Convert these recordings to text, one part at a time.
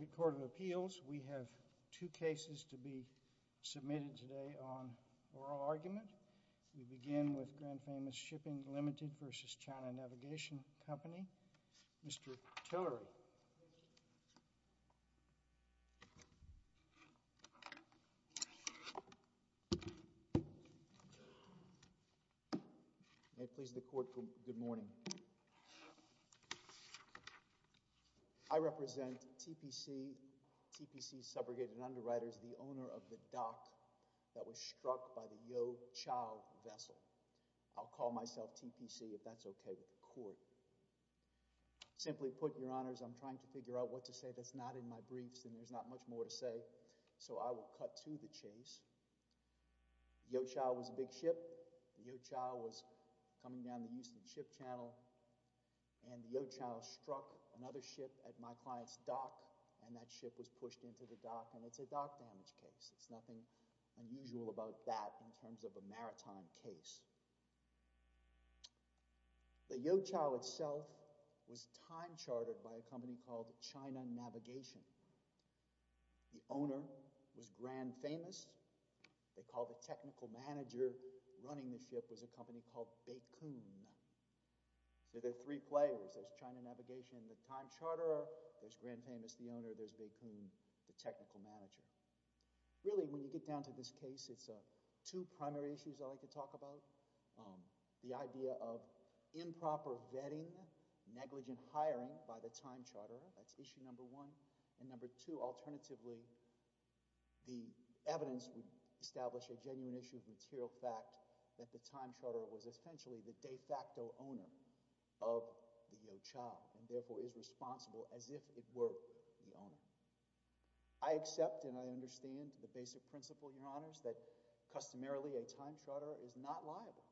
The Court of Appeals, we have two cases to be submitted today on oral argument. We begin with Grand Famous Shipping Ltd. v. China Navigation Company. Mr. Tillery, may it please the Court, good morning. I represent TPC, TPC Subrogate and Underwriters, the owner of the dock that was struck by the Yo Chow vessel. I'll call myself TPC if that's okay with the Court. Simply put, Your Honors, I'm trying to figure out what to say that's not in my briefs and there's not much more to say, so I will cut to the chase. Yo Chow was a big ship, Yo Chow was coming down the Euston Ship Channel and Yo Chow struck another ship at my client's dock and that ship was pushed into the dock and it's a dock damage case. It's nothing unusual about that in terms of a maritime case. The Yo Chow itself was time chartered by a company called China Navigation. The owner was Grand Famous, they called the technical manager running the ship was a company called Baikun. So there are three players, there's China Navigation, the time charterer, there's Grand Famous, the owner, there's Baikun, the technical manager. Really when you get down to this case, it's two primary issues I'd like to talk about. One, the idea of improper vetting, negligent hiring by the time charterer, that's issue number one. And number two, alternatively, the evidence would establish a genuine issue of material fact that the time charterer was essentially the de facto owner of the Yo Chow and therefore is responsible as if it were the owner. I accept and I understand the basic principle, Your Honors, that customarily a time charterer is not liable.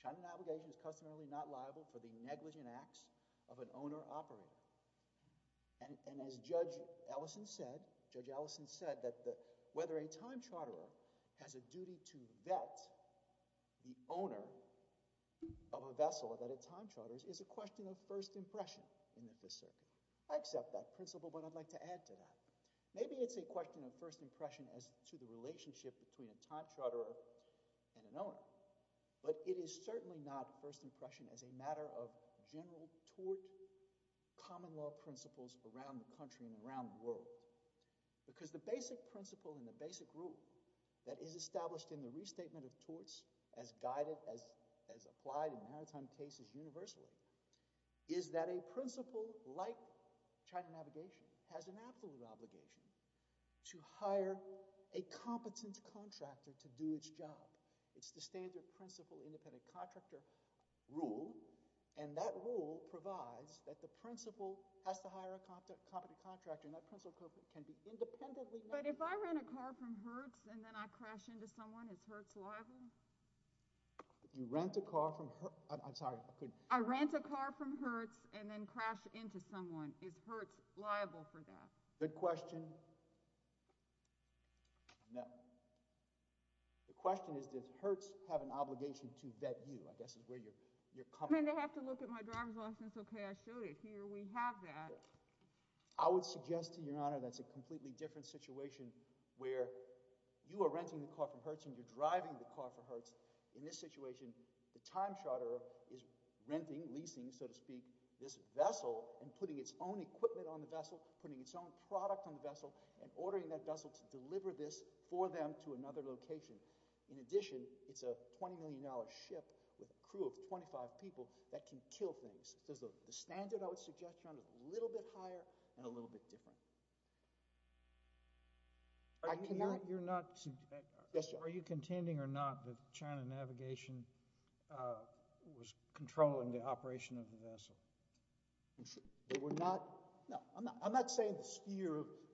China Navigation is customarily not liable for the negligent acts of an owner-operator. And as Judge Ellison said, Judge Ellison said that whether a time charterer has a duty to vet the owner of a vessel that it time charters is a question of first impression in the Fifth Circuit. I accept that principle but I'd like to add to that. Maybe it's a question of first impression as to the relationship between a time charterer and an owner. But it is certainly not first impression as a matter of general tort common law principles around the country and around the world. Because the basic principle and the basic rule that is established in the restatement of torts as guided, as applied in maritime cases universally, is that a principle like China Navigation has an absolute obligation to hire a competent contractor to do its job. It's the standard principle independent contractor rule and that rule provides that the principal has to hire a competent contractor and that principal can be independently— But if I rent a car from Hertz and then I crash into someone, is Hertz liable? If you rent a car from Hertz—I'm sorry, I couldn't— If I rent a car from Hertz and then crash into someone, is Hertz liable for that? Good question. No. The question is, does Hertz have an obligation to vet you, I guess is where you're coming from. Then they have to look at my driver's license. Okay, I showed it here. We have that. I would suggest to Your Honor that's a completely different situation where you are renting the car from Hertz and you're driving the car for Hertz. In this situation, the time charter is renting, leasing, so to speak, this vessel and putting its own equipment on the vessel, putting its own product on the vessel, and ordering that vessel to deliver this for them to another location. In addition, it's a $20 million ship with a crew of 25 people that can kill things. So the standard I would suggest, Your Honor, is a little bit higher and a little bit different. Are you contending or not that China Navigation was controlling the operation of the vessel? No, I'm not saying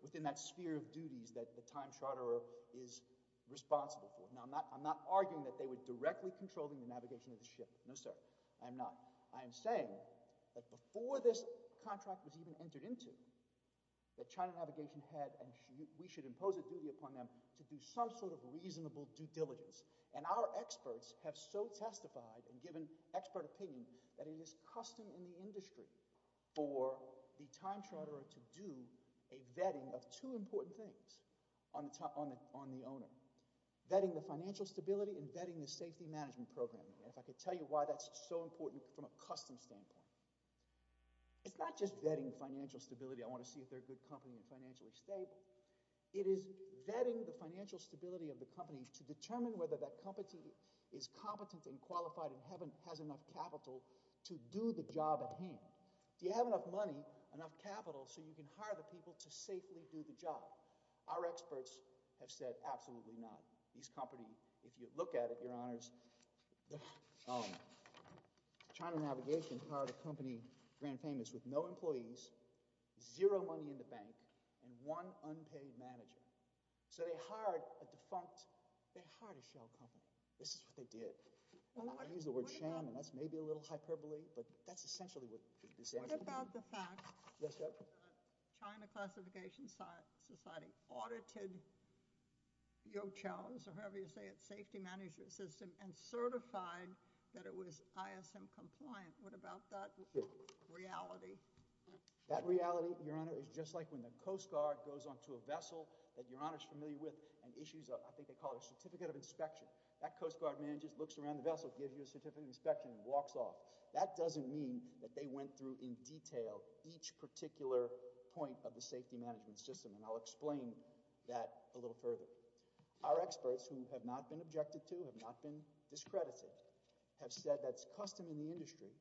within that sphere of duties that the time charter is responsible for. No, I'm not arguing that they were directly controlling the navigation of the ship. No, sir. I'm not. I'm just saying that before this contract was even entered into, that China Navigation had and we should impose a duty upon them to do some sort of reasonable due diligence. And our experts have so testified and given expert opinion that it is custom in the industry for the time charterer to do a vetting of two important things on the owner. Vetting the financial stability and vetting the safety management program. If I could tell you why that's so important from a custom standpoint. It's not just vetting financial stability. I want to see if they're a good company and financially stable. It is vetting the financial stability of the company to determine whether that company is competent and qualified and has enough capital to do the job at hand. Do you have enough money, enough capital, so you can hire the people to safely do the job? Our experts have said absolutely not. These companies, if you look at it, your honors, China Navigation hired a company, Grand Famous, with no employees, zero money in the bank, and one unpaid manager. So they hired a defunct, they hired a shell company. This is what they did. I use the word sham and that's maybe a little hyperbole, but that's essentially what they did. What about the fact that China Classification Society audited Yochelles, or however you say it, safety management system, and certified that it was ISM compliant. What about that reality? That reality, your honor, is just like when the Coast Guard goes on to a vessel that your honor is familiar with and issues, I think they call it a certificate of inspection. That Coast Guard manager looks around the vessel, gives you a certificate of inspection, and walks off. That doesn't mean that they went through in detail each particular point of the safety management system, and I'll explain that a little further. Our experts, who have not been objected to, have not been discredited, have said that's custom in the industry,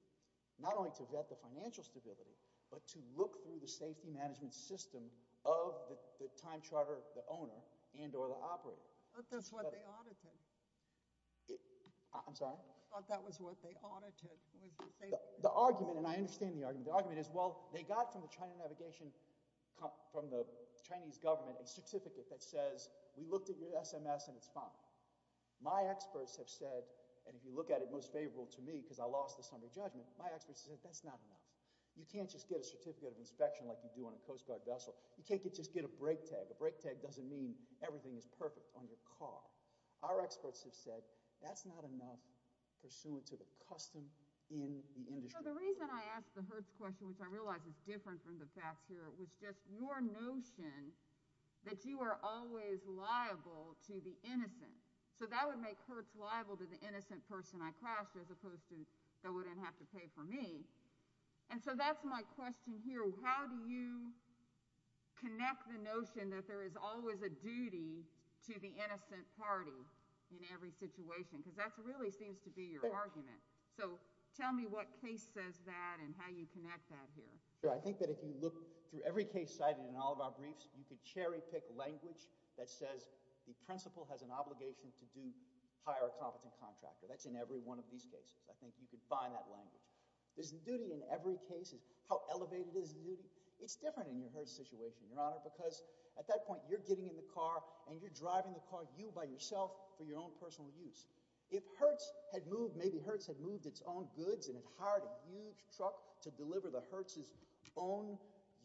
not only to vet the financial stability, but to look through the safety management system of the time charter, the owner, and or the operator. But that's what they audited. I'm sorry? I thought that was what they audited. The argument, and I understand the argument, the argument is, well, they got from the Chinese government a certificate that says, we looked at your SMS and it's fine. My experts have said, and if you look at it, most favorable to me, because I lost this under judgment, my experts have said, that's not enough. You can't just get a certificate of inspection like you do on a Coast Guard vessel. You can't just get a break tag. A break tag doesn't mean everything is perfect on your car. Our experts have said, that's not enough pursuant to the custom in the industry. So the reason I asked the Hertz question, which I realize is different from the facts here, was just your notion that you are always liable to the innocent. So that would make Hertz liable to the innocent person I crashed, as opposed to they wouldn't have to pay for me. And so that's my question here. So how do you connect the notion that there is always a duty to the innocent party in every situation? Because that really seems to be your argument. So tell me what case says that and how you connect that here. Sure. I think that if you look through every case cited in all of our briefs, you could cherry pick language that says, the principal has an obligation to do hire a competent contractor. That's in every one of these cases. I think you could find that language. There's a duty in every case. How elevated is the duty? It's different in your Hertz situation, Your Honor, because at that point, you're getting in the car and you're driving the car, you by yourself, for your own personal use. If Hertz had moved, maybe Hertz had moved its own goods and had hired a huge truck to deliver the Hertz's own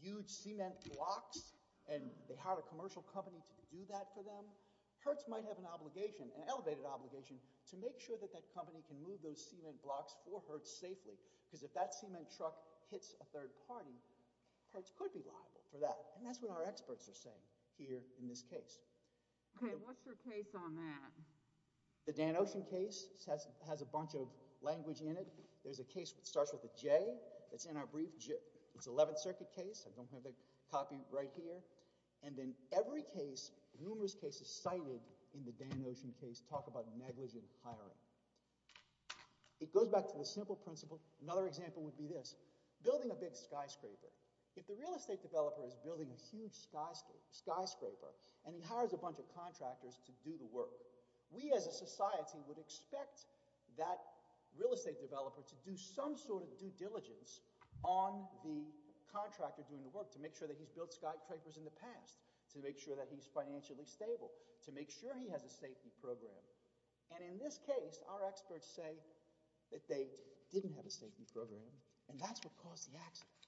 huge cement blocks and they hired a commercial company to do that for them, Hertz might have an obligation, an elevated obligation, to make sure that that company can move those cement blocks for Hertz safely because if that cement truck hits a third party, Hertz could be liable for that. And that's what our experts are saying here in this case. Okay, what's your case on that? The Dan Ocean case has a bunch of language in it. There's a case that starts with a J that's in our brief. It's an 11th Circuit case. I don't have the copy right here. And in every case, numerous cases cited in the Dan Ocean case talk about negligent hiring. It goes back to the simple principle. Another example would be this. Building a big skyscraper. If the real estate developer is building a huge skyscraper and he hires a bunch of contractors to do the work, we as a society would expect that real estate developer to do some sort of due diligence on the contractor doing the work to make sure that he's built skyscrapers in the past, to make sure that he's financially stable, to make sure he has a safety program. And in this case, our experts say that they didn't have a safety program. And that's what caused the accident.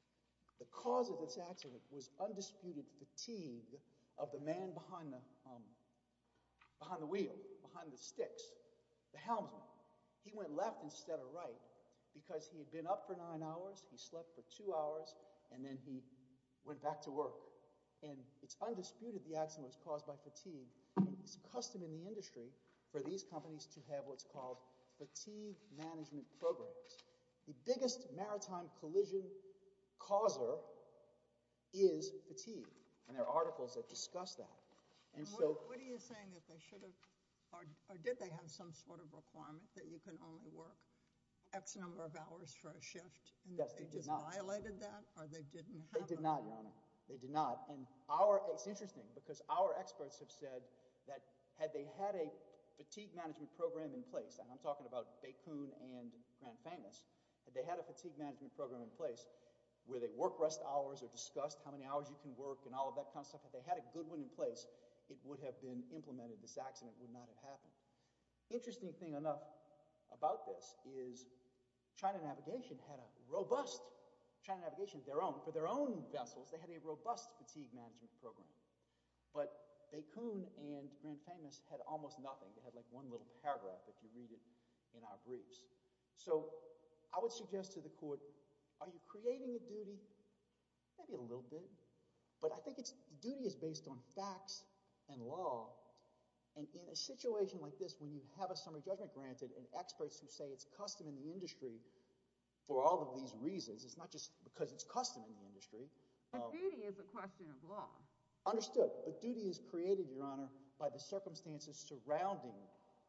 The cause of this accident was undisputed fatigue of the man behind the wheel, behind the sticks, the helmsman. He went left instead of right because he had been up for nine hours, he slept for two hours, and then he went back to work. And it's undisputed the accident was caused by fatigue. It's custom in the industry for these companies to have what's called fatigue management programs. The biggest maritime collision causer is fatigue. And there are articles that discuss that. What are you saying? Or did they have some sort of requirement that you can only work X number of hours for a shift? Yes, they did not. And they just violated that? They did not, Your Honor. They did not. And it's interesting because our experts have said that had they had a fatigue management program in place, and I'm talking about Baikun and Grand Famous, had they had a fatigue management program in place where they work rest hours or discussed how many hours you can work and all of that kind of stuff, if they had a good one in place, it would have been implemented. This accident would not have happened. Interesting thing enough about this is China Navigation had a robust China Navigation of their own. For their own vessels, they had a robust fatigue management program. But Baikun and Grand Famous had almost nothing. They had like one little paragraph if you read it in our briefs. So I would suggest to the court, are you creating a duty? Maybe a little bit. But I think the duty is based on facts and law. And in a situation like this, when you have a summary judgment granted and experts who say it's custom in the industry for all of these reasons, it's not just because it's custom in the industry. But duty is a question of law. Understood. But duty is created, Your Honor, by the circumstances surrounding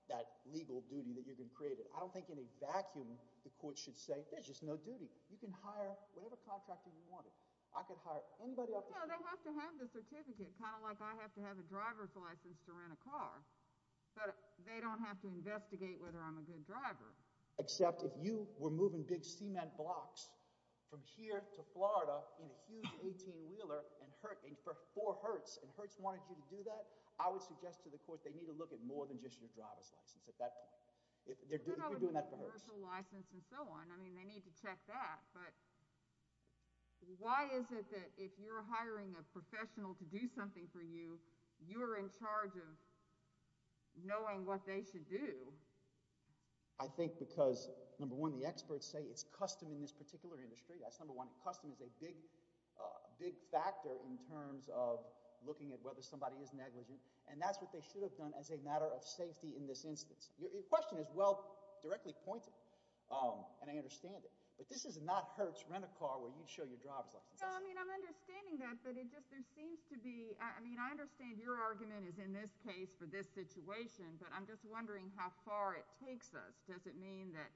that legal duty that you've been created. I don't think in a vacuum the court should say, there's just no duty. You can hire whatever contractor you wanted. I could hire anybody. No, they have to have the certificate. Kind of like I have to have a driver's license to rent a car. But they don't have to investigate whether I'm a good driver. Except if you were moving big cement blocks from here to Florida in a huge 18-wheeler for Hertz, and Hertz wanted you to do that, I would suggest to the court they need to look at more than just your driver's license at that point. If you're doing that for Hertz. I mean, they need to check that. But why is it that if you're hiring a professional to do something for you, I think because, number one, the experts say it's custom in this particular industry. That's number one. Custom is a big, big factor in terms of looking at whether somebody is negligent. And that's what they should have done as a matter of safety in this instance. Your question is well directly pointed. And I understand it. But this is not Hertz. Rent a car where you'd show your driver's license. No, I mean, I'm understanding that. But it just, there seems to be, I mean, I understand your argument is in this case for this situation. But I'm just wondering how far it takes us. Does it mean that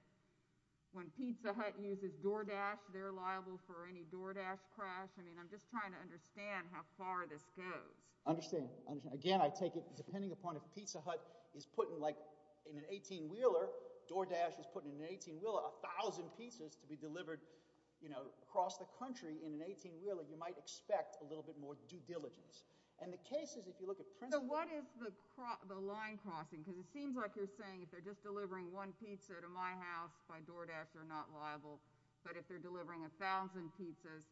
when Pizza Hut uses DoorDash, they're liable for any DoorDash crash? I mean, I'm just trying to understand how far this goes. I understand. Again, I take it depending upon if Pizza Hut is putting like in an 18-wheeler, DoorDash is putting in an 18-wheeler a thousand pizzas to be delivered, you know, across the country in an 18-wheeler, you might expect a little bit more due diligence. And the case is if you look at principle. So what is the line crossing? Because it seems like you're saying if they're just delivering one pizza to my house by DoorDash, they're not liable. But if they're delivering a thousand pizzas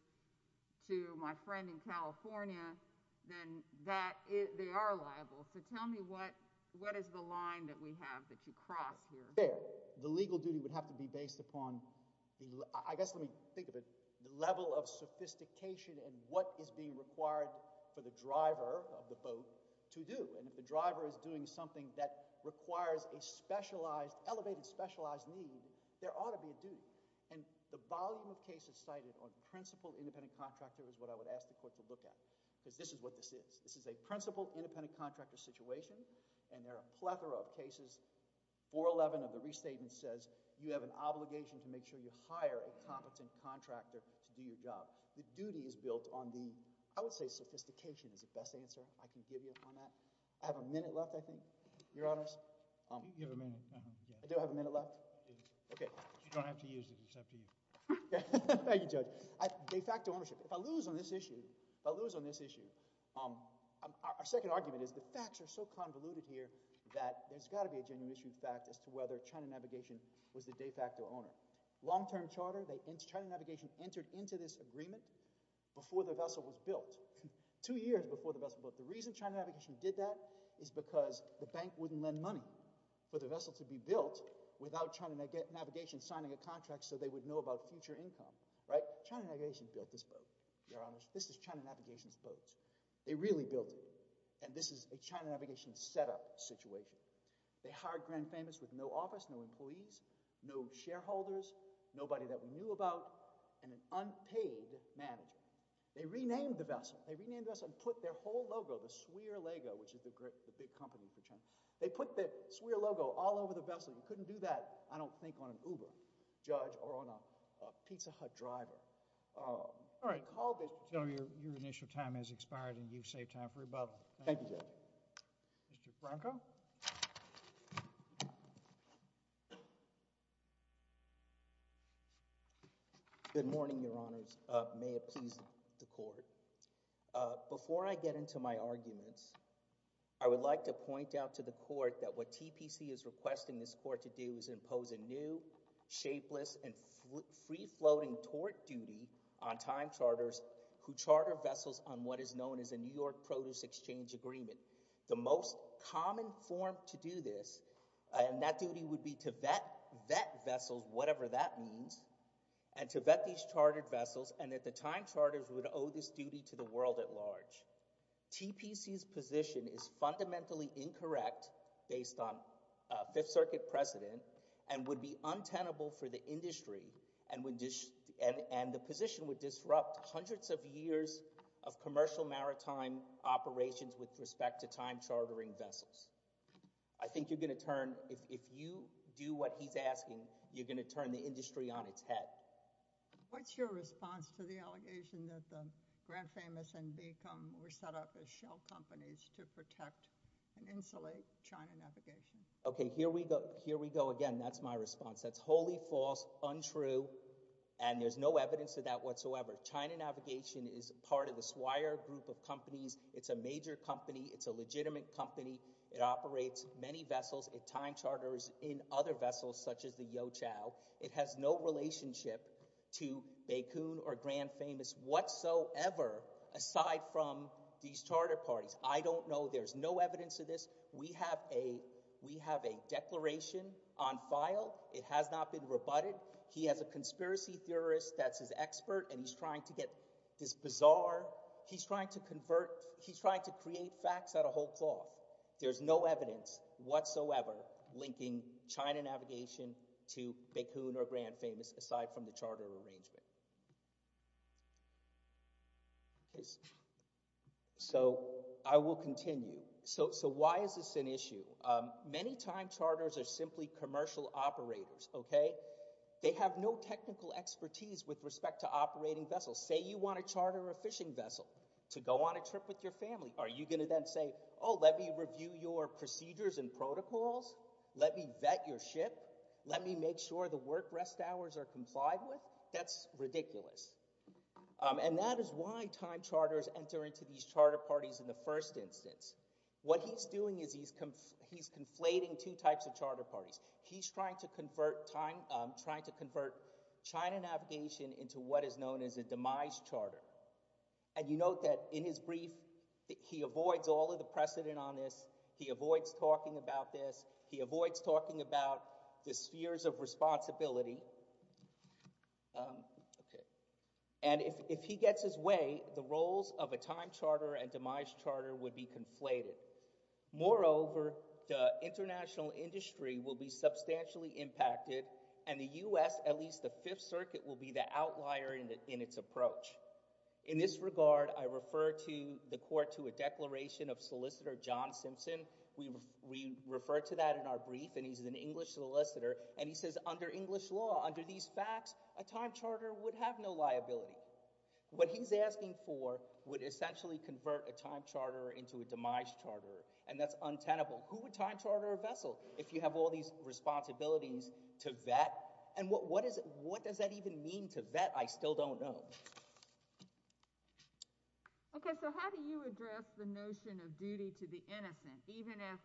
to my friend in California, then that, they are liable. So tell me what, what is the line that we have that you cross here? The legal duty would have to be based upon the, I guess, let me think of it, the level of sophistication and what is being required for the driver of the boat to do. And if the driver is doing something that requires a specialized, elevated specialized need, there ought to be a duty. And the volume of cases cited on principle independent contractor is what I would ask the court to look at. Because this is what this is. This is a principle independent contractor situation and there are a plethora of cases. 411 of the restatement says, you have an obligation to make sure you hire a competent contractor to do your job. The duty is built on the, I would say sophistication is the best answer. I can give you on that. I have a minute left, I think. Your Honors. You have a minute. Do I have a minute left? You do. Okay. You don't have to use it. It's up to you. Thank you, Judge. De facto ownership. If I lose on this issue, if I lose on this issue, our second argument is the facts are so convoluted here that there's got to be a genuine issue in fact as to whether China Navigation was the de facto owner. Long term charter, China Navigation entered into this agreement before the vessel was built. Two years before the vessel was built. The reason China Navigation did that is because the bank wouldn't lend money for the vessel to be built without China Navigation signing a contract so they would know about future income. Right? China Navigation built this boat. Your Honors. This is China Navigation's boat. They really built it. And this is a China Navigation setup situation. They hired Grand Famous with no office, no employees, no shareholders, nobody that we knew about, and an unpaid manager. They renamed the vessel. They renamed the vessel and put their whole logo, the SWIR logo, which is the big company for China. They put the SWIR logo all over the vessel. You couldn't do that, I don't think, on an Uber, Judge, or on a Pizza Hut driver. All right. Your initial time has expired and you've saved time for rebuttal. Thank you, Judge. Mr. Franco? Good morning, Your Honors. May it please the Court. Before I get into my arguments, I would like to point out to the Court that what TPC is requesting this Court to do is impose a new, shapeless, and free-floating tort duty on time charters who charter vessels on what is known as a New York Produce Exchange Agreement. The most common form to do this, and that duty would be to vet vessels, whatever that means, and to vet these chartered vessels, and that the time charters would owe this duty to the world at large. TPC's position is fundamentally incorrect based on Fifth Circuit precedent and would be untenable for the industry and the position would disrupt hundreds of years of commercial maritime operations with respect to time-chartering vessels. I think you're going to turn, if you do what he's asking, you're going to turn the industry on its head. What's your response to the allegation that the Grand Famous and Beacom were set up as shell companies to protect and insulate China Navigation? Okay, here we go again. That's my response. That's wholly false, untrue, and there's no evidence of that whatsoever. China Navigation is part of the Swire Group of companies. It's a major company. It's a legitimate company. It operates many vessels. It time charters in other vessels such as the Youqiao. It has no relationship to Beacom or Grand Famous whatsoever aside from these charter parties. I don't know. There's no evidence of this. We have a declaration on file. It has not been rebutted. He has a conspiracy theorist that's his expert, and he's trying to get this bizarre. He's trying to convert. He's trying to create facts out of whole cloth. There's no evidence whatsoever linking China Navigation to Beacom or Grand Famous aside from the charter arrangement. So I will continue. So why is this an issue? Many time charters are simply commercial operators, okay? They have no technical expertise with respect to operating vessels. Say you want to charter a fishing vessel to go on a trip with your family. Are you going to then say, Oh, let me review your procedures and protocols. Let me vet your ship. Let me make sure the work rest hours are complied with. That's ridiculous. And that is why time charters enter into these charter parties in the first instance. What he's doing is he's conflating two types of charter parties. He's trying to convert time, trying to convert China Navigation into what is known as a demise charter. And you note that in his brief, he avoids all of the precedent on this. He avoids talking about this. He avoids talking about the spheres of responsibility. And if he gets his way, the roles of a time charter and demise charter would be conflated. Moreover, the international industry will be substantially impacted and the U.S., at least the Fifth Circuit, will be the outlier in its approach. In this regard, I refer the court to a declaration of solicitor John Simpson. We refer to that in our brief and he's an English solicitor and he says under English law, under these facts, a time charter would have no liability. What he's asking for would essentially convert a time charter into a demise charter and that's untenable. Who would time charter a vessel if you have all these responsibilities to vet? And what does that even mean to vet? I still don't know. Okay, so how do you address the notion of duty to the innocent? Even if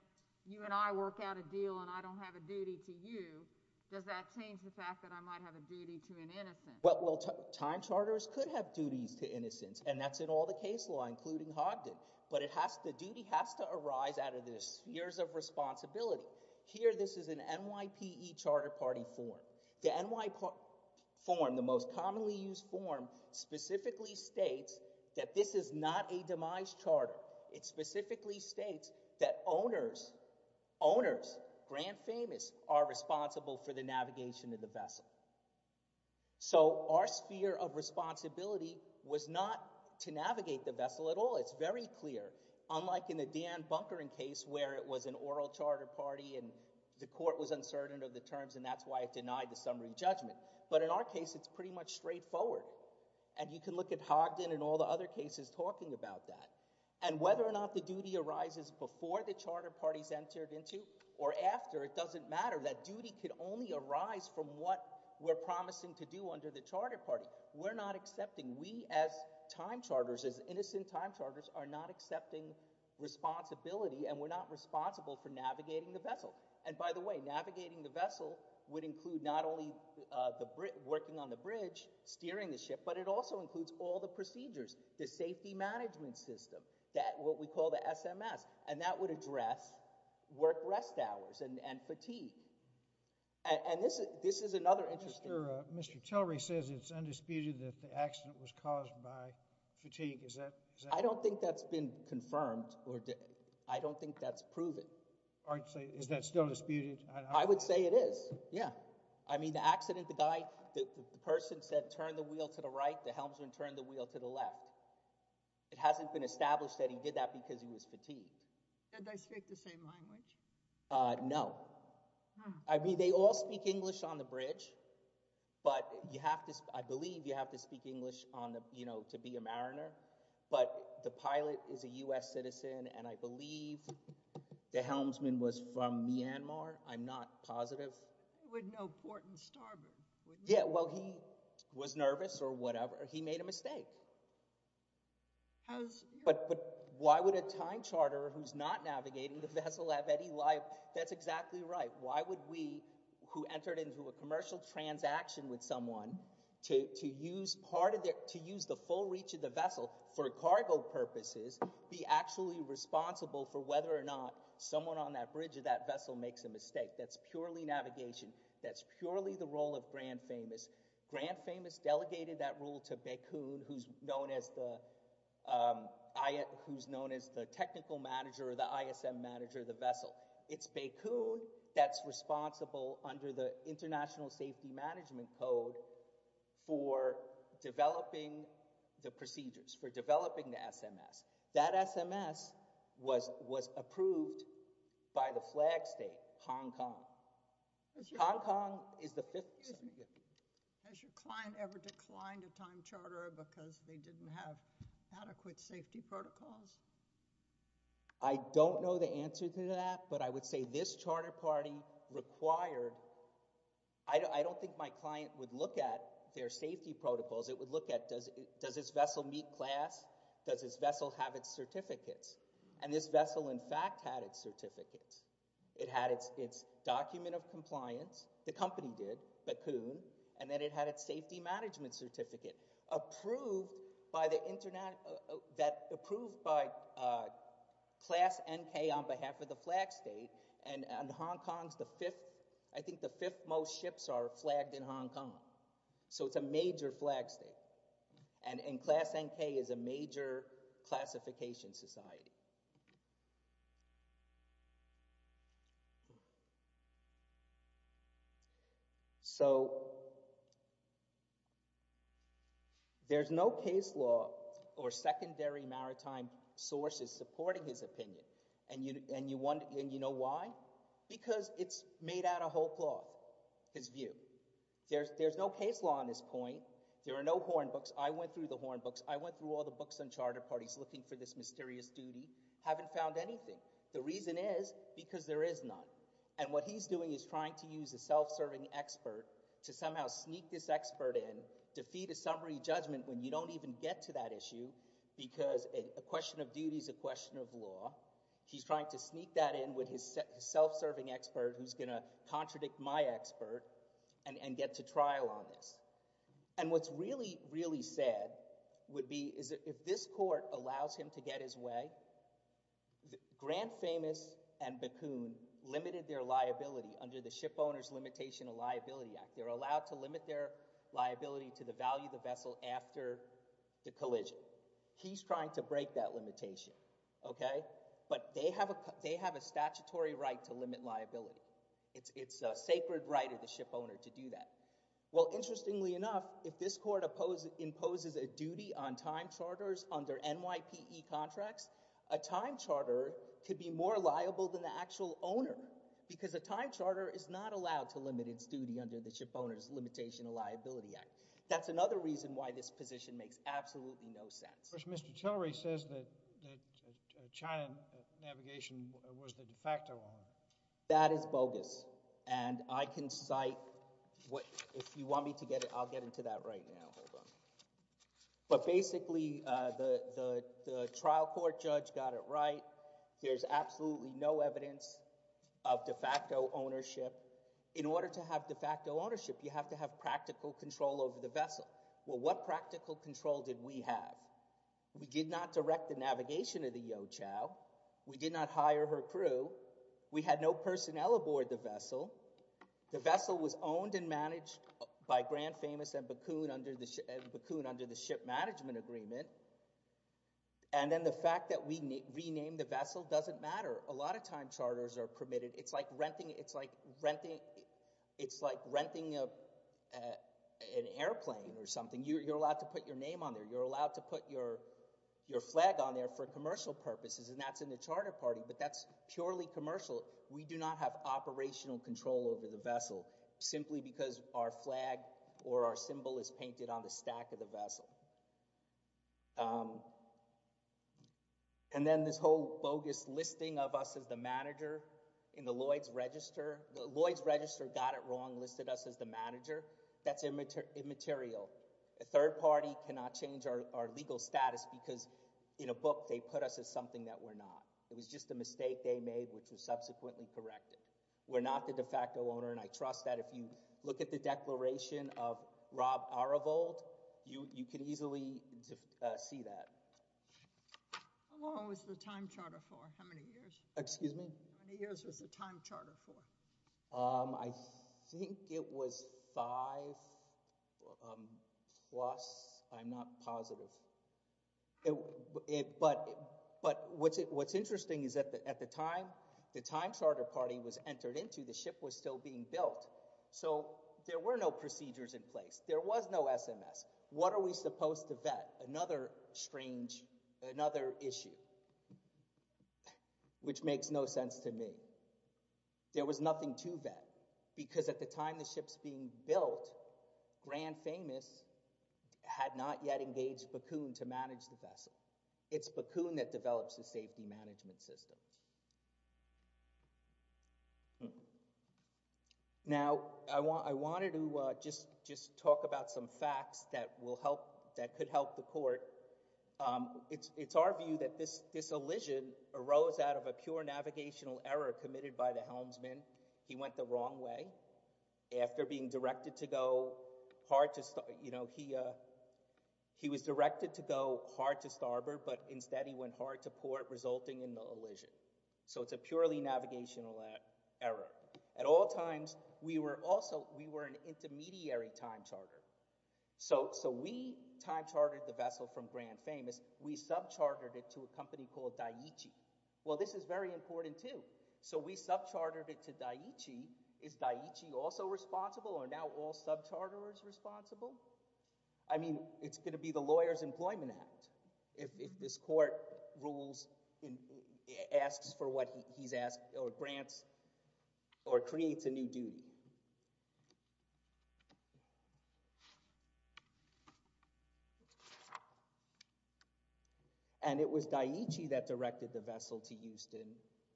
you and I work out a deal and I don't have a duty to you, does that change the fact that I might have a duty to an innocent? Well, time charters could have duties to innocents and that's in all the case law, including Hogdon, but the duty has to arise out of the spheres of responsibility. Here, this is an NYPE Charter Party form. The NYPE form, the most commonly used form, specifically states that this is not a demise charter. It specifically states that owners, owners, grand famous, are responsible for the navigation of the vessel. So our sphere of responsibility was not to navigate the vessel at all. It's very clear. Unlike in the Dan Bunker case where it was an oral charter party and the court was uncertain of the terms and that's why it denied the summary judgment. But in our case, it's pretty much straightforward. And you can look at Hogdon and all the other cases talking about that. And whether or not the duty arises before the charter party's entered into or after, it doesn't matter. That duty could only arise from what we're promising to do under the charter party. We're not accepting, we as time charters, as innocent time charters, are not accepting responsibility and we're not responsible for navigating the vessel. And by the way, navigating the vessel would include not only working on the bridge, steering the ship, but it also includes all the procedures, the safety management system, what we call the SMS. And that would address work rest hours and fatigue. And this is another interesting... Mr. Tillery says it's undisputed that the accident was caused by fatigue. Is that... I don't think that's been confirmed or I don't think that's proven. Is that still disputed? I would say it is, yeah. I mean the accident, the guy, the person said, turn the wheel to the right, the helmsman turned the wheel to the left. It hasn't been established that he did that because he was fatigued. Did they speak the same language? No. I mean they all speak English on the bridge, but you have to, I believe you have to speak English to be a mariner, but the pilot is a U.S. citizen and I believe the helmsman was from Myanmar. I'm not positive. He would know port and starboard, wouldn't he? Yeah, well he was nervous or whatever. He made a mistake. But why would a time charterer who's not navigating the vessel have any life? That's exactly right. Why would we, who entered into a commercial transaction with someone, to use part of their, to use the full reach of the vessel for cargo purposes, be actually responsible for whether or not someone on that bridge or that vessel makes a mistake. That's purely navigation. That's purely the role of Grand Famous. Grand Famous delegated that role to Baikun, who's known as the technical manager or the ISM manager of the vessel. It's Baikun that's responsible under the International Safety Management Code for developing the procedures, for developing the SMS. That SMS was approved by the flag state, Hong Kong. Hong Kong is the fifth... Excuse me. Has your client ever declined a time charterer because they didn't have adequate safety protocols? I don't know the answer to that, but I would say this charter party required... I don't think my client would look at their safety protocols. It would look at does this vessel meet class? Does this vessel have its certificates? And this vessel in fact had its certificates. It had its document of compliance. The company did, Baikun. And then it had its safety management certificate approved by the... that approved by Class NK on behalf of the flag state. And Hong Kong's the fifth... I think the fifth most ships are flagged in Hong Kong. So it's a major flag state. And Class NK is a major classification society. So... There's no case law or secondary maritime sources supporting his opinion. And you know why? Because it's made out of whole cloth, his view. There's no case law on this point. There are no horn books. I went through the horn books. I went through all the books on charter parties looking for this mysterious duty. Haven't found anything. The reason is because there is none. And what he's doing is trying to use a self-serving expert to somehow sneak this expert in, defeat a summary judgment when you don't even get to that issue because a question of duty is a question of law. He's trying to sneak that in with his self-serving expert who's gonna contradict my expert and get to trial on this. And what's really, really sad would be is if this court allows him to get his way, Grant Famous and Bakun limited their liability under the Shipowners Limitation of Liability Act. They're allowed to limit their liability to the value of the vessel after the collision. He's trying to break that limitation, okay? But they have a statutory right to limit liability. It's a sacred right of the shipowner to do that. Well, interestingly enough, if this court imposes a duty on time charters under NYPE contracts, a time charter could be more liable than the actual owner because a time charter is not allowed to limit its duty under the Shipowners Limitation of Liability Act. That's another reason why this position makes absolutely no sense. That is bogus. And I can cite what, if you want me to get it, I'll get into that right now. Hold on. But basically, the trial court judge got it right. There's absolutely no evidence of de facto ownership. In order to have de facto ownership, you have to have practical control over the vessel. Well, what practical control did we have? We did not direct the navigation of the Yochow. We did not hire her crew. We had no personnel aboard the vessel. The vessel was owned and managed by Grand Famous and Bakun under the Ship Management Agreement. And then the fact that we renamed the vessel doesn't matter. A lot of time charters are permitted. It's like renting an airplane or something. You're allowed to put your name on there. You're allowed to put your flag on there for commercial purposes, and that's in the charter party, but that's purely commercial. We do not have operational control over the vessel simply because our flag or our symbol is painted on the stack of the vessel. And then this whole bogus listing of us as the manager in the Lloyd's Register. The Lloyd's Register got it wrong, listed us as the manager. That's immaterial. A third party cannot change our legal status because in a book they put us as something that we're not. It was just a mistake they made which was subsequently corrected. We're not the de facto owner, and I trust that if you look at the declaration of Rob Aravold, you can easily see that. How long was the time charter for? How many years? Excuse me? How many years was the time charter for? I think it was five plus. I'm not positive. But what's interesting is at the time the time charter party was entered into, the ship was still being built, so there were no procedures in place. There was no SMS. What are we supposed to vet? Another strange, another issue which makes no sense to me. There was nothing to vet because at the time the ship's being built, Grand Famous had not yet engaged Bakun to manage the vessel. It's Bakun that develops the safety management system. Now, I wanted to just talk about some facts that could help the court. It's our view that this elision arose out of a pure navigational error committed by the helmsman. He went the wrong way. After being directed to go hard to starboard, he was directed to go hard to starboard, but instead he went hard to port resulting in the elision. So it's a purely navigational error. At all times, we were an intermediary time charter. So we time chartered the vessel from Grand Famous. We sub-chartered it to a company called Daiichi. Well, this is very important too. So we sub-chartered it to Daiichi. Is Daiichi also responsible or are now all sub-charters responsible? I mean, it's going to be the Lawyers Employment Act if this court asks for what he's asked or grants or creates a new duty. And it was Daiichi that directed the vessel to Houston,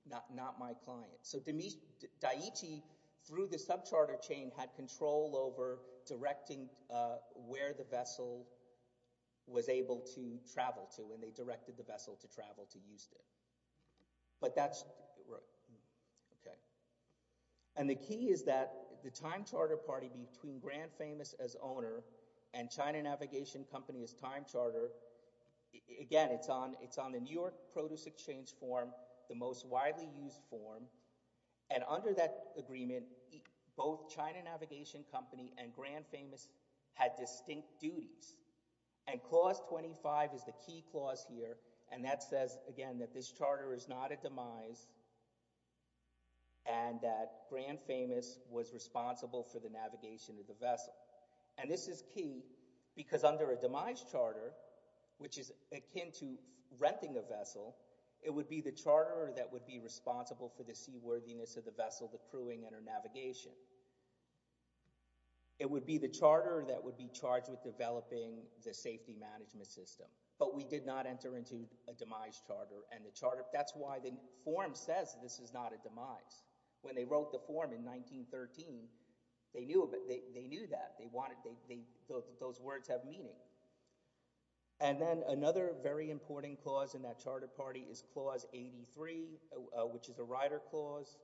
not my client. So Daiichi, through the sub-charter chain, had control over directing where the vessel was able to travel to and they directed the vessel to travel to Houston. And the key is that the time charter party between Grand Famous as owner and China Navigation Company as time charter, again, it's on the New York Produce Exchange form, the most widely used form. And under that agreement, both China Navigation Company and Grand Famous had distinct duties. And Clause 25 is the key clause here and that says, again, that this charter is not a demise and that Grand Famous was responsible for the navigation of the vessel. And this is key because under a demise charter, which is akin to renting a vessel, it would be the charterer that would be responsible for the seaworthiness of the vessel, the crewing, and her navigation. It would be the charterer that would be charged with developing the safety management system. But we did not enter into a demise charter. That's why the form says this is not a demise. When they wrote the form in 1913, they knew that. Those words have meaning. And then another very important clause which is a rider clause.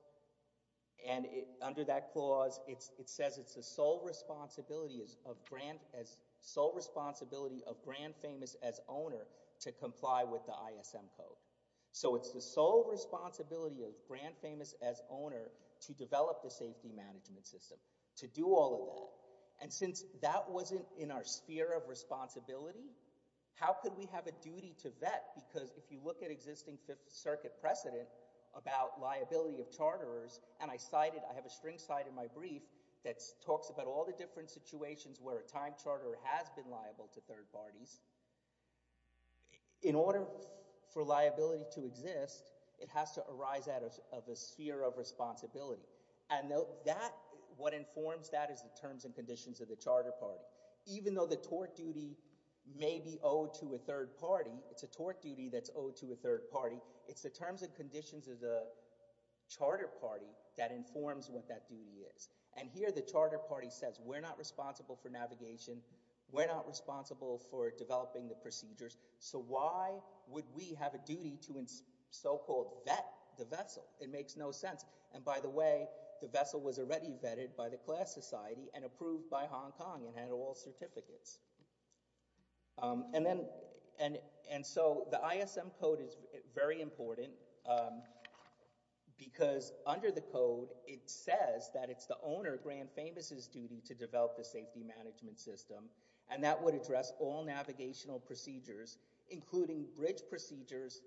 And under that clause, it says it's the sole responsibility of Grand Famous as owner to comply with the ISM Code. So it's the sole responsibility of Grand Famous as owner to develop the safety management system, to do all of that. And since that wasn't in our sphere of responsibility, how could we have a duty to vet? Because if you look at existing Fifth Circuit precedent about liability of charterers, and I cited, I have a string cite in my brief that talks about all the different situations where a time charterer has been liable to third parties. In order for liability to exist, it has to arise out of a sphere of responsibility. And what informs that is the terms and conditions of the charter party. Even though the tort duty may be owed to a third party, it's a tort duty that's owed to a third party. It's the terms and conditions of the charter party that informs what that duty is. And here the charter party says, we're not responsible for navigation, we're not responsible for developing the procedures, so why would we have a duty to so-called vet the vessel? It makes no sense. And by the way, the vessel was already vetted by the class society and approved by Hong Kong and had all certificates. And so the ISM Code is very important because under the code it says that it's the owner, Grand Famous' duty to develop the safety management system and that would address all navigational procedures including bridge procedures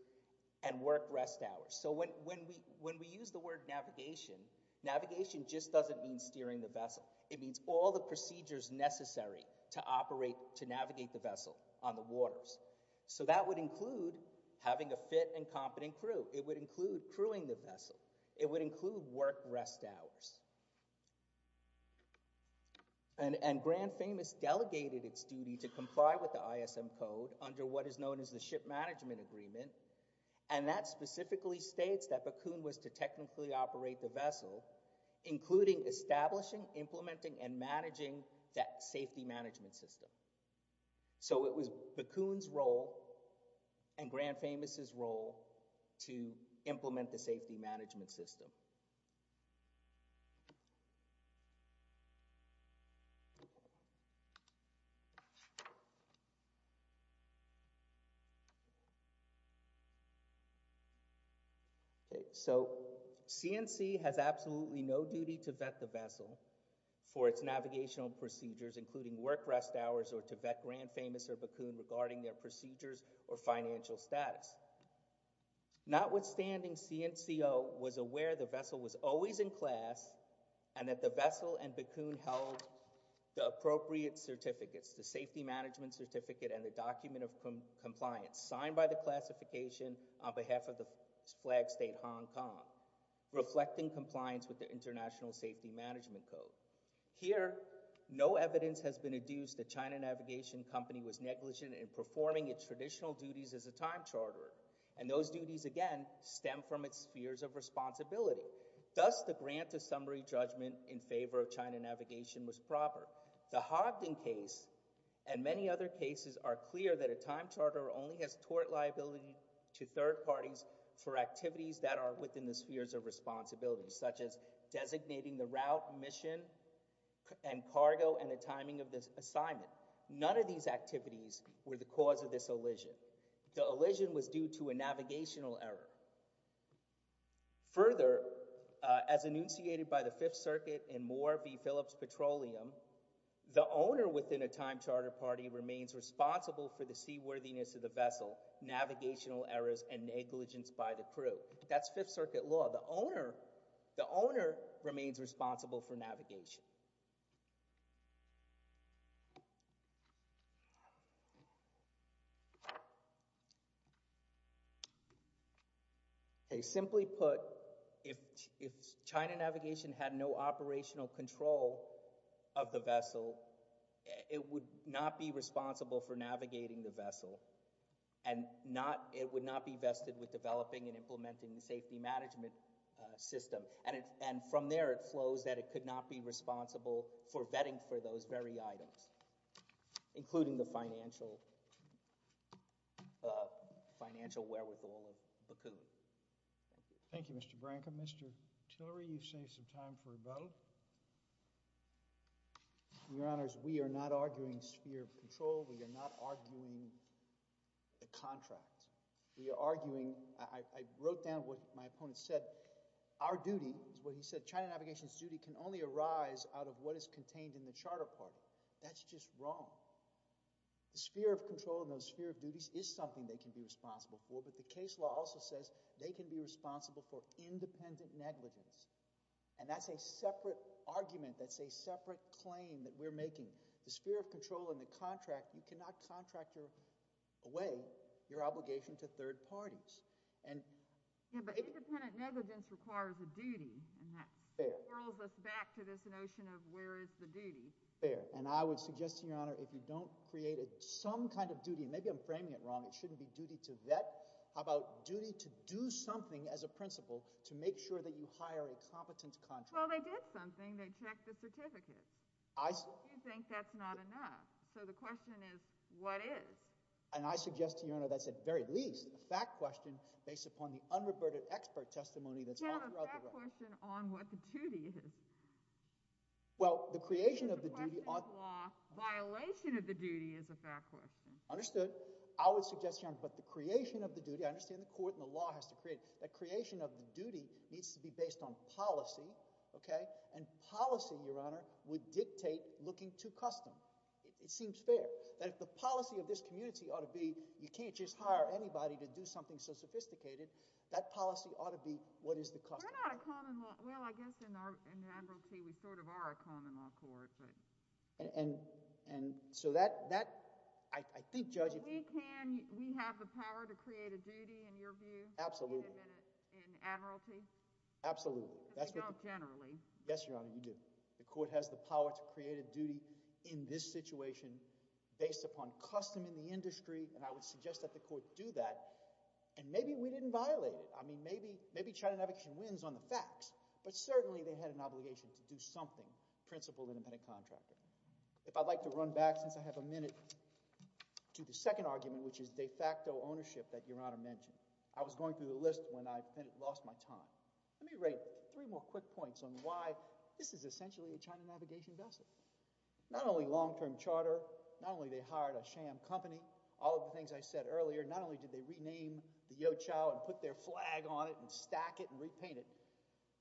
and work rest hours. So when we use the word navigation, navigation just doesn't mean steering the vessel. It means all the procedures necessary to navigate the vessel on the waters. So that would include having a fit and competent crew. It would include crewing the vessel. It would include work rest hours. And Grand Famous delegated its duty to comply with the ISM Code under what is known as the Ship Management Agreement and that specifically states that Bakun was to technically operate the vessel including establishing, implementing, and managing that safety management system. So it was Bakun's role and Grand Famous' role to implement the safety management system. So CNC has absolutely no duty to vet the vessel for its navigational procedures including work rest hours or to vet Grand Famous or Bakun regarding their procedures or financial status. Notwithstanding, CNCO was aware the vessel was always in class and that the vessel and Bakun held the appropriate certificates, the safety management certificate and the document of compliance signed by the classification on behalf of the flag state Hong Kong reflecting compliance with the International Safety Management Code. Here, no evidence has been adduced that China Navigation Company was negligent in performing its traditional duties as a time charterer and those duties, again, stem from its spheres of responsibility. Thus, the grant of summary judgment in favor of China Navigation was proper. The Hogden case and many other cases are clear that a time charterer only has tort liability to third parties for activities that are within the spheres of responsibility such as designating the route, mission, and cargo and the timing of the assignment. None of these activities were the cause of this elision. The elision was due to a navigational error. Further, as enunciated by the Fifth Circuit in Moore v. Phillips Petroleum, the owner within a time charter party remains responsible for the seaworthiness of the vessel, navigational errors, and negligence by the crew. That's Fifth Circuit law. The owner remains responsible for navigation. Okay, simply put, if China Navigation had no operational control of the vessel, it would not be responsible for navigating the vessel and it would not be vested with developing and implementing the safety management system. And from there, it flows that it could not be responsible for vetting for those very items. Including the financial financial wherewithal of Bakun. Thank you. Thank you, Mr. Branca. Mr. Tillery, you've saved some time for a vote. Your Honors, we are not arguing sphere of control. We are not arguing the contract. We are arguing, I wrote down what my opponent said. Our duty, is what he said, China Navigation's duty can only arise out of what is contained in the charter part. That's just wrong. The sphere of control and those sphere of duties is something they can be responsible for, but the case law also says they can be responsible for independent negligence. And that's a separate argument. That's a separate claim that we're making. The sphere of control and the contract, you cannot contract away your obligation to third parties. Yeah, but independent negligence requires a duty and that swirls us back to this notion of where is the duty. Fair. And I would suggest, Your Honor, if you don't create some kind of duty, maybe I'm framing it wrong, it shouldn't be duty to vet. How about duty to do something as a principle to make sure that you hire a competent contractor. Well, they did something. They checked the certificates. I... You think that's not enough. So the question is, what is? And I suggest, Your Honor, that's at very least a fact question based upon the unreverted expert testimony that's all throughout the record. Yeah, but a fact question on what the duty is. Well, the creation of the duty ought... It's a question of law. Violation of the duty is a fact question. Understood. I would suggest, Your Honor, but the creation of the duty, I understand the court and the law has to create it. The creation of the duty needs to be based on policy, okay, and policy, Your Honor, would dictate looking to custom. It seems fair that if the policy of this community ought to be you can't just hire anybody to do something so sophisticated, that policy ought to be what is the custom. We're not a common law... Well, I guess in admiralty we sort of are a common law court, but... And so that, I think, Judge... But we can, we have the power to create a duty in your view? Absolutely. In admiralty? Absolutely. Because we don't generally. Yes, Your Honor, you do. The court has the power to create a duty in this situation based upon custom in the industry and I would suggest that the court do that and maybe we didn't violate it. I mean, maybe China Navigation wins on the facts, but certainly they had an obligation to do something principled independent contractor. If I'd like to run back since I have a minute to the second argument which is de facto ownership that Your Honor mentioned. I was going through the list when I lost my time. Let me write three more quick points on why this is essentially a China Navigation vessel. Not only long term charter, not only they hired a sham company, all of the things rename the You Chao and put their flag on it and stack it and repaint it,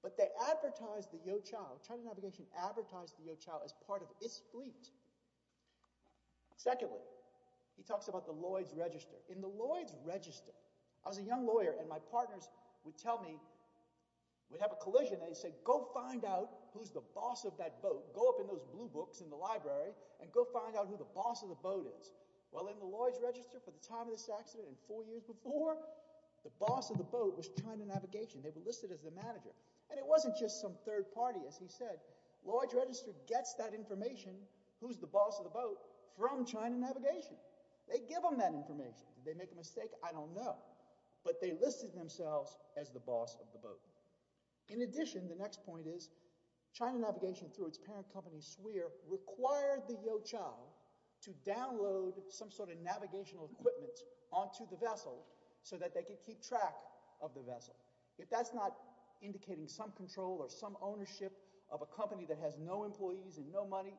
but they advertised it as a China Navigation vessel and it was a China Navigation vessel and they advertised the You Chao. China Navigation advertised the You Chao as part of its fleet. Secondly, he talks about the Lloyd's Register. In the Lloyd's Register, I was a young lawyer and my partners would tell me, we'd have a collision and they'd say, go find out who's the boss of that boat. Go up in those blue books in the library and go find out who the boss of the boat is. Well, in the Lloyd's Register for the time of this accident and four years before, the boss of the boat was China Navigation. They were listed as the manager and it wasn't just some third party. As he said, Lloyd's Register gets that information who's the boss of the boat from China Navigation. They give them that information. Did they make a mistake? I don't know, but they listed themselves as the boss of the boat. In addition, the next point is, China Navigation through its parent company, SWIR, required the You Chao to download some sort of navigational equipment onto the vessel so that they could keep track of the vessel. If that's not indicating some control or some ownership of a company that has no employees and no money,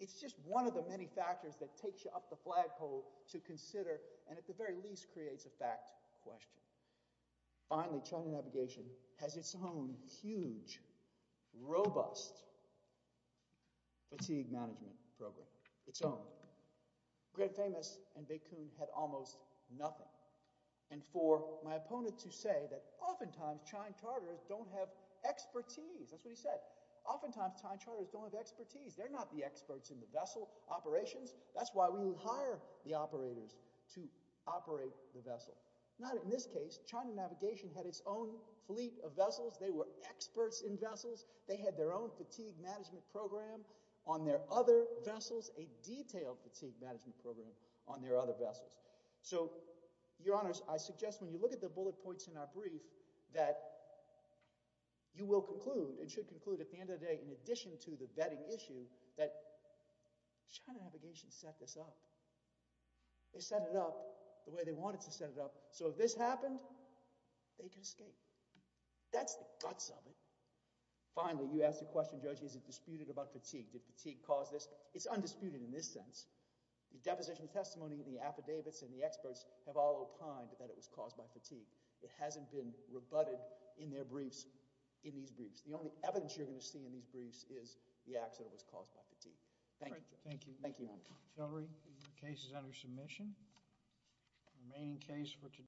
it's just one of the many factors that takes you up the flagpole to consider and at the very least creates a fact question. Finally, China Navigation has its own huge, robust fatigue management program, its own. Grand Famous and Baikun had almost nothing. For my opponents who say that often times China Charter is not China Charters don't have expertise. That's what he said. Often times, China Charters don't have expertise. They're not the experts in the vessel operations. That's why we hire the operators to operate the vessel. Not in this case. China Navigation had its own fleet of vessels. They were experts in vessels. They had their own fatigue management program on their other vessels, a detailed fatigue management program on their other vessels. So, Your Honors, I suggest when you look at the bullet points in our brief that you will conclude and should conclude at the end of the day in addition to the vetting issue that China Navigation set this up. They set it up the way they wanted to set it up so if this happened, they could escape. That's the guts of it. Finally, you ask the question, Judge, is it disputed about fatigue? Did fatigue cause this? It's undisputed in this sense. The deposition testimony and the affidavits and the experts have all opined that it was caused by fatigue. It hasn't been rebutted in their briefs, in these briefs. The only evidence you're going to see in these briefs is the accident that was caused by fatigue. Thank you. Thank you. Thank you.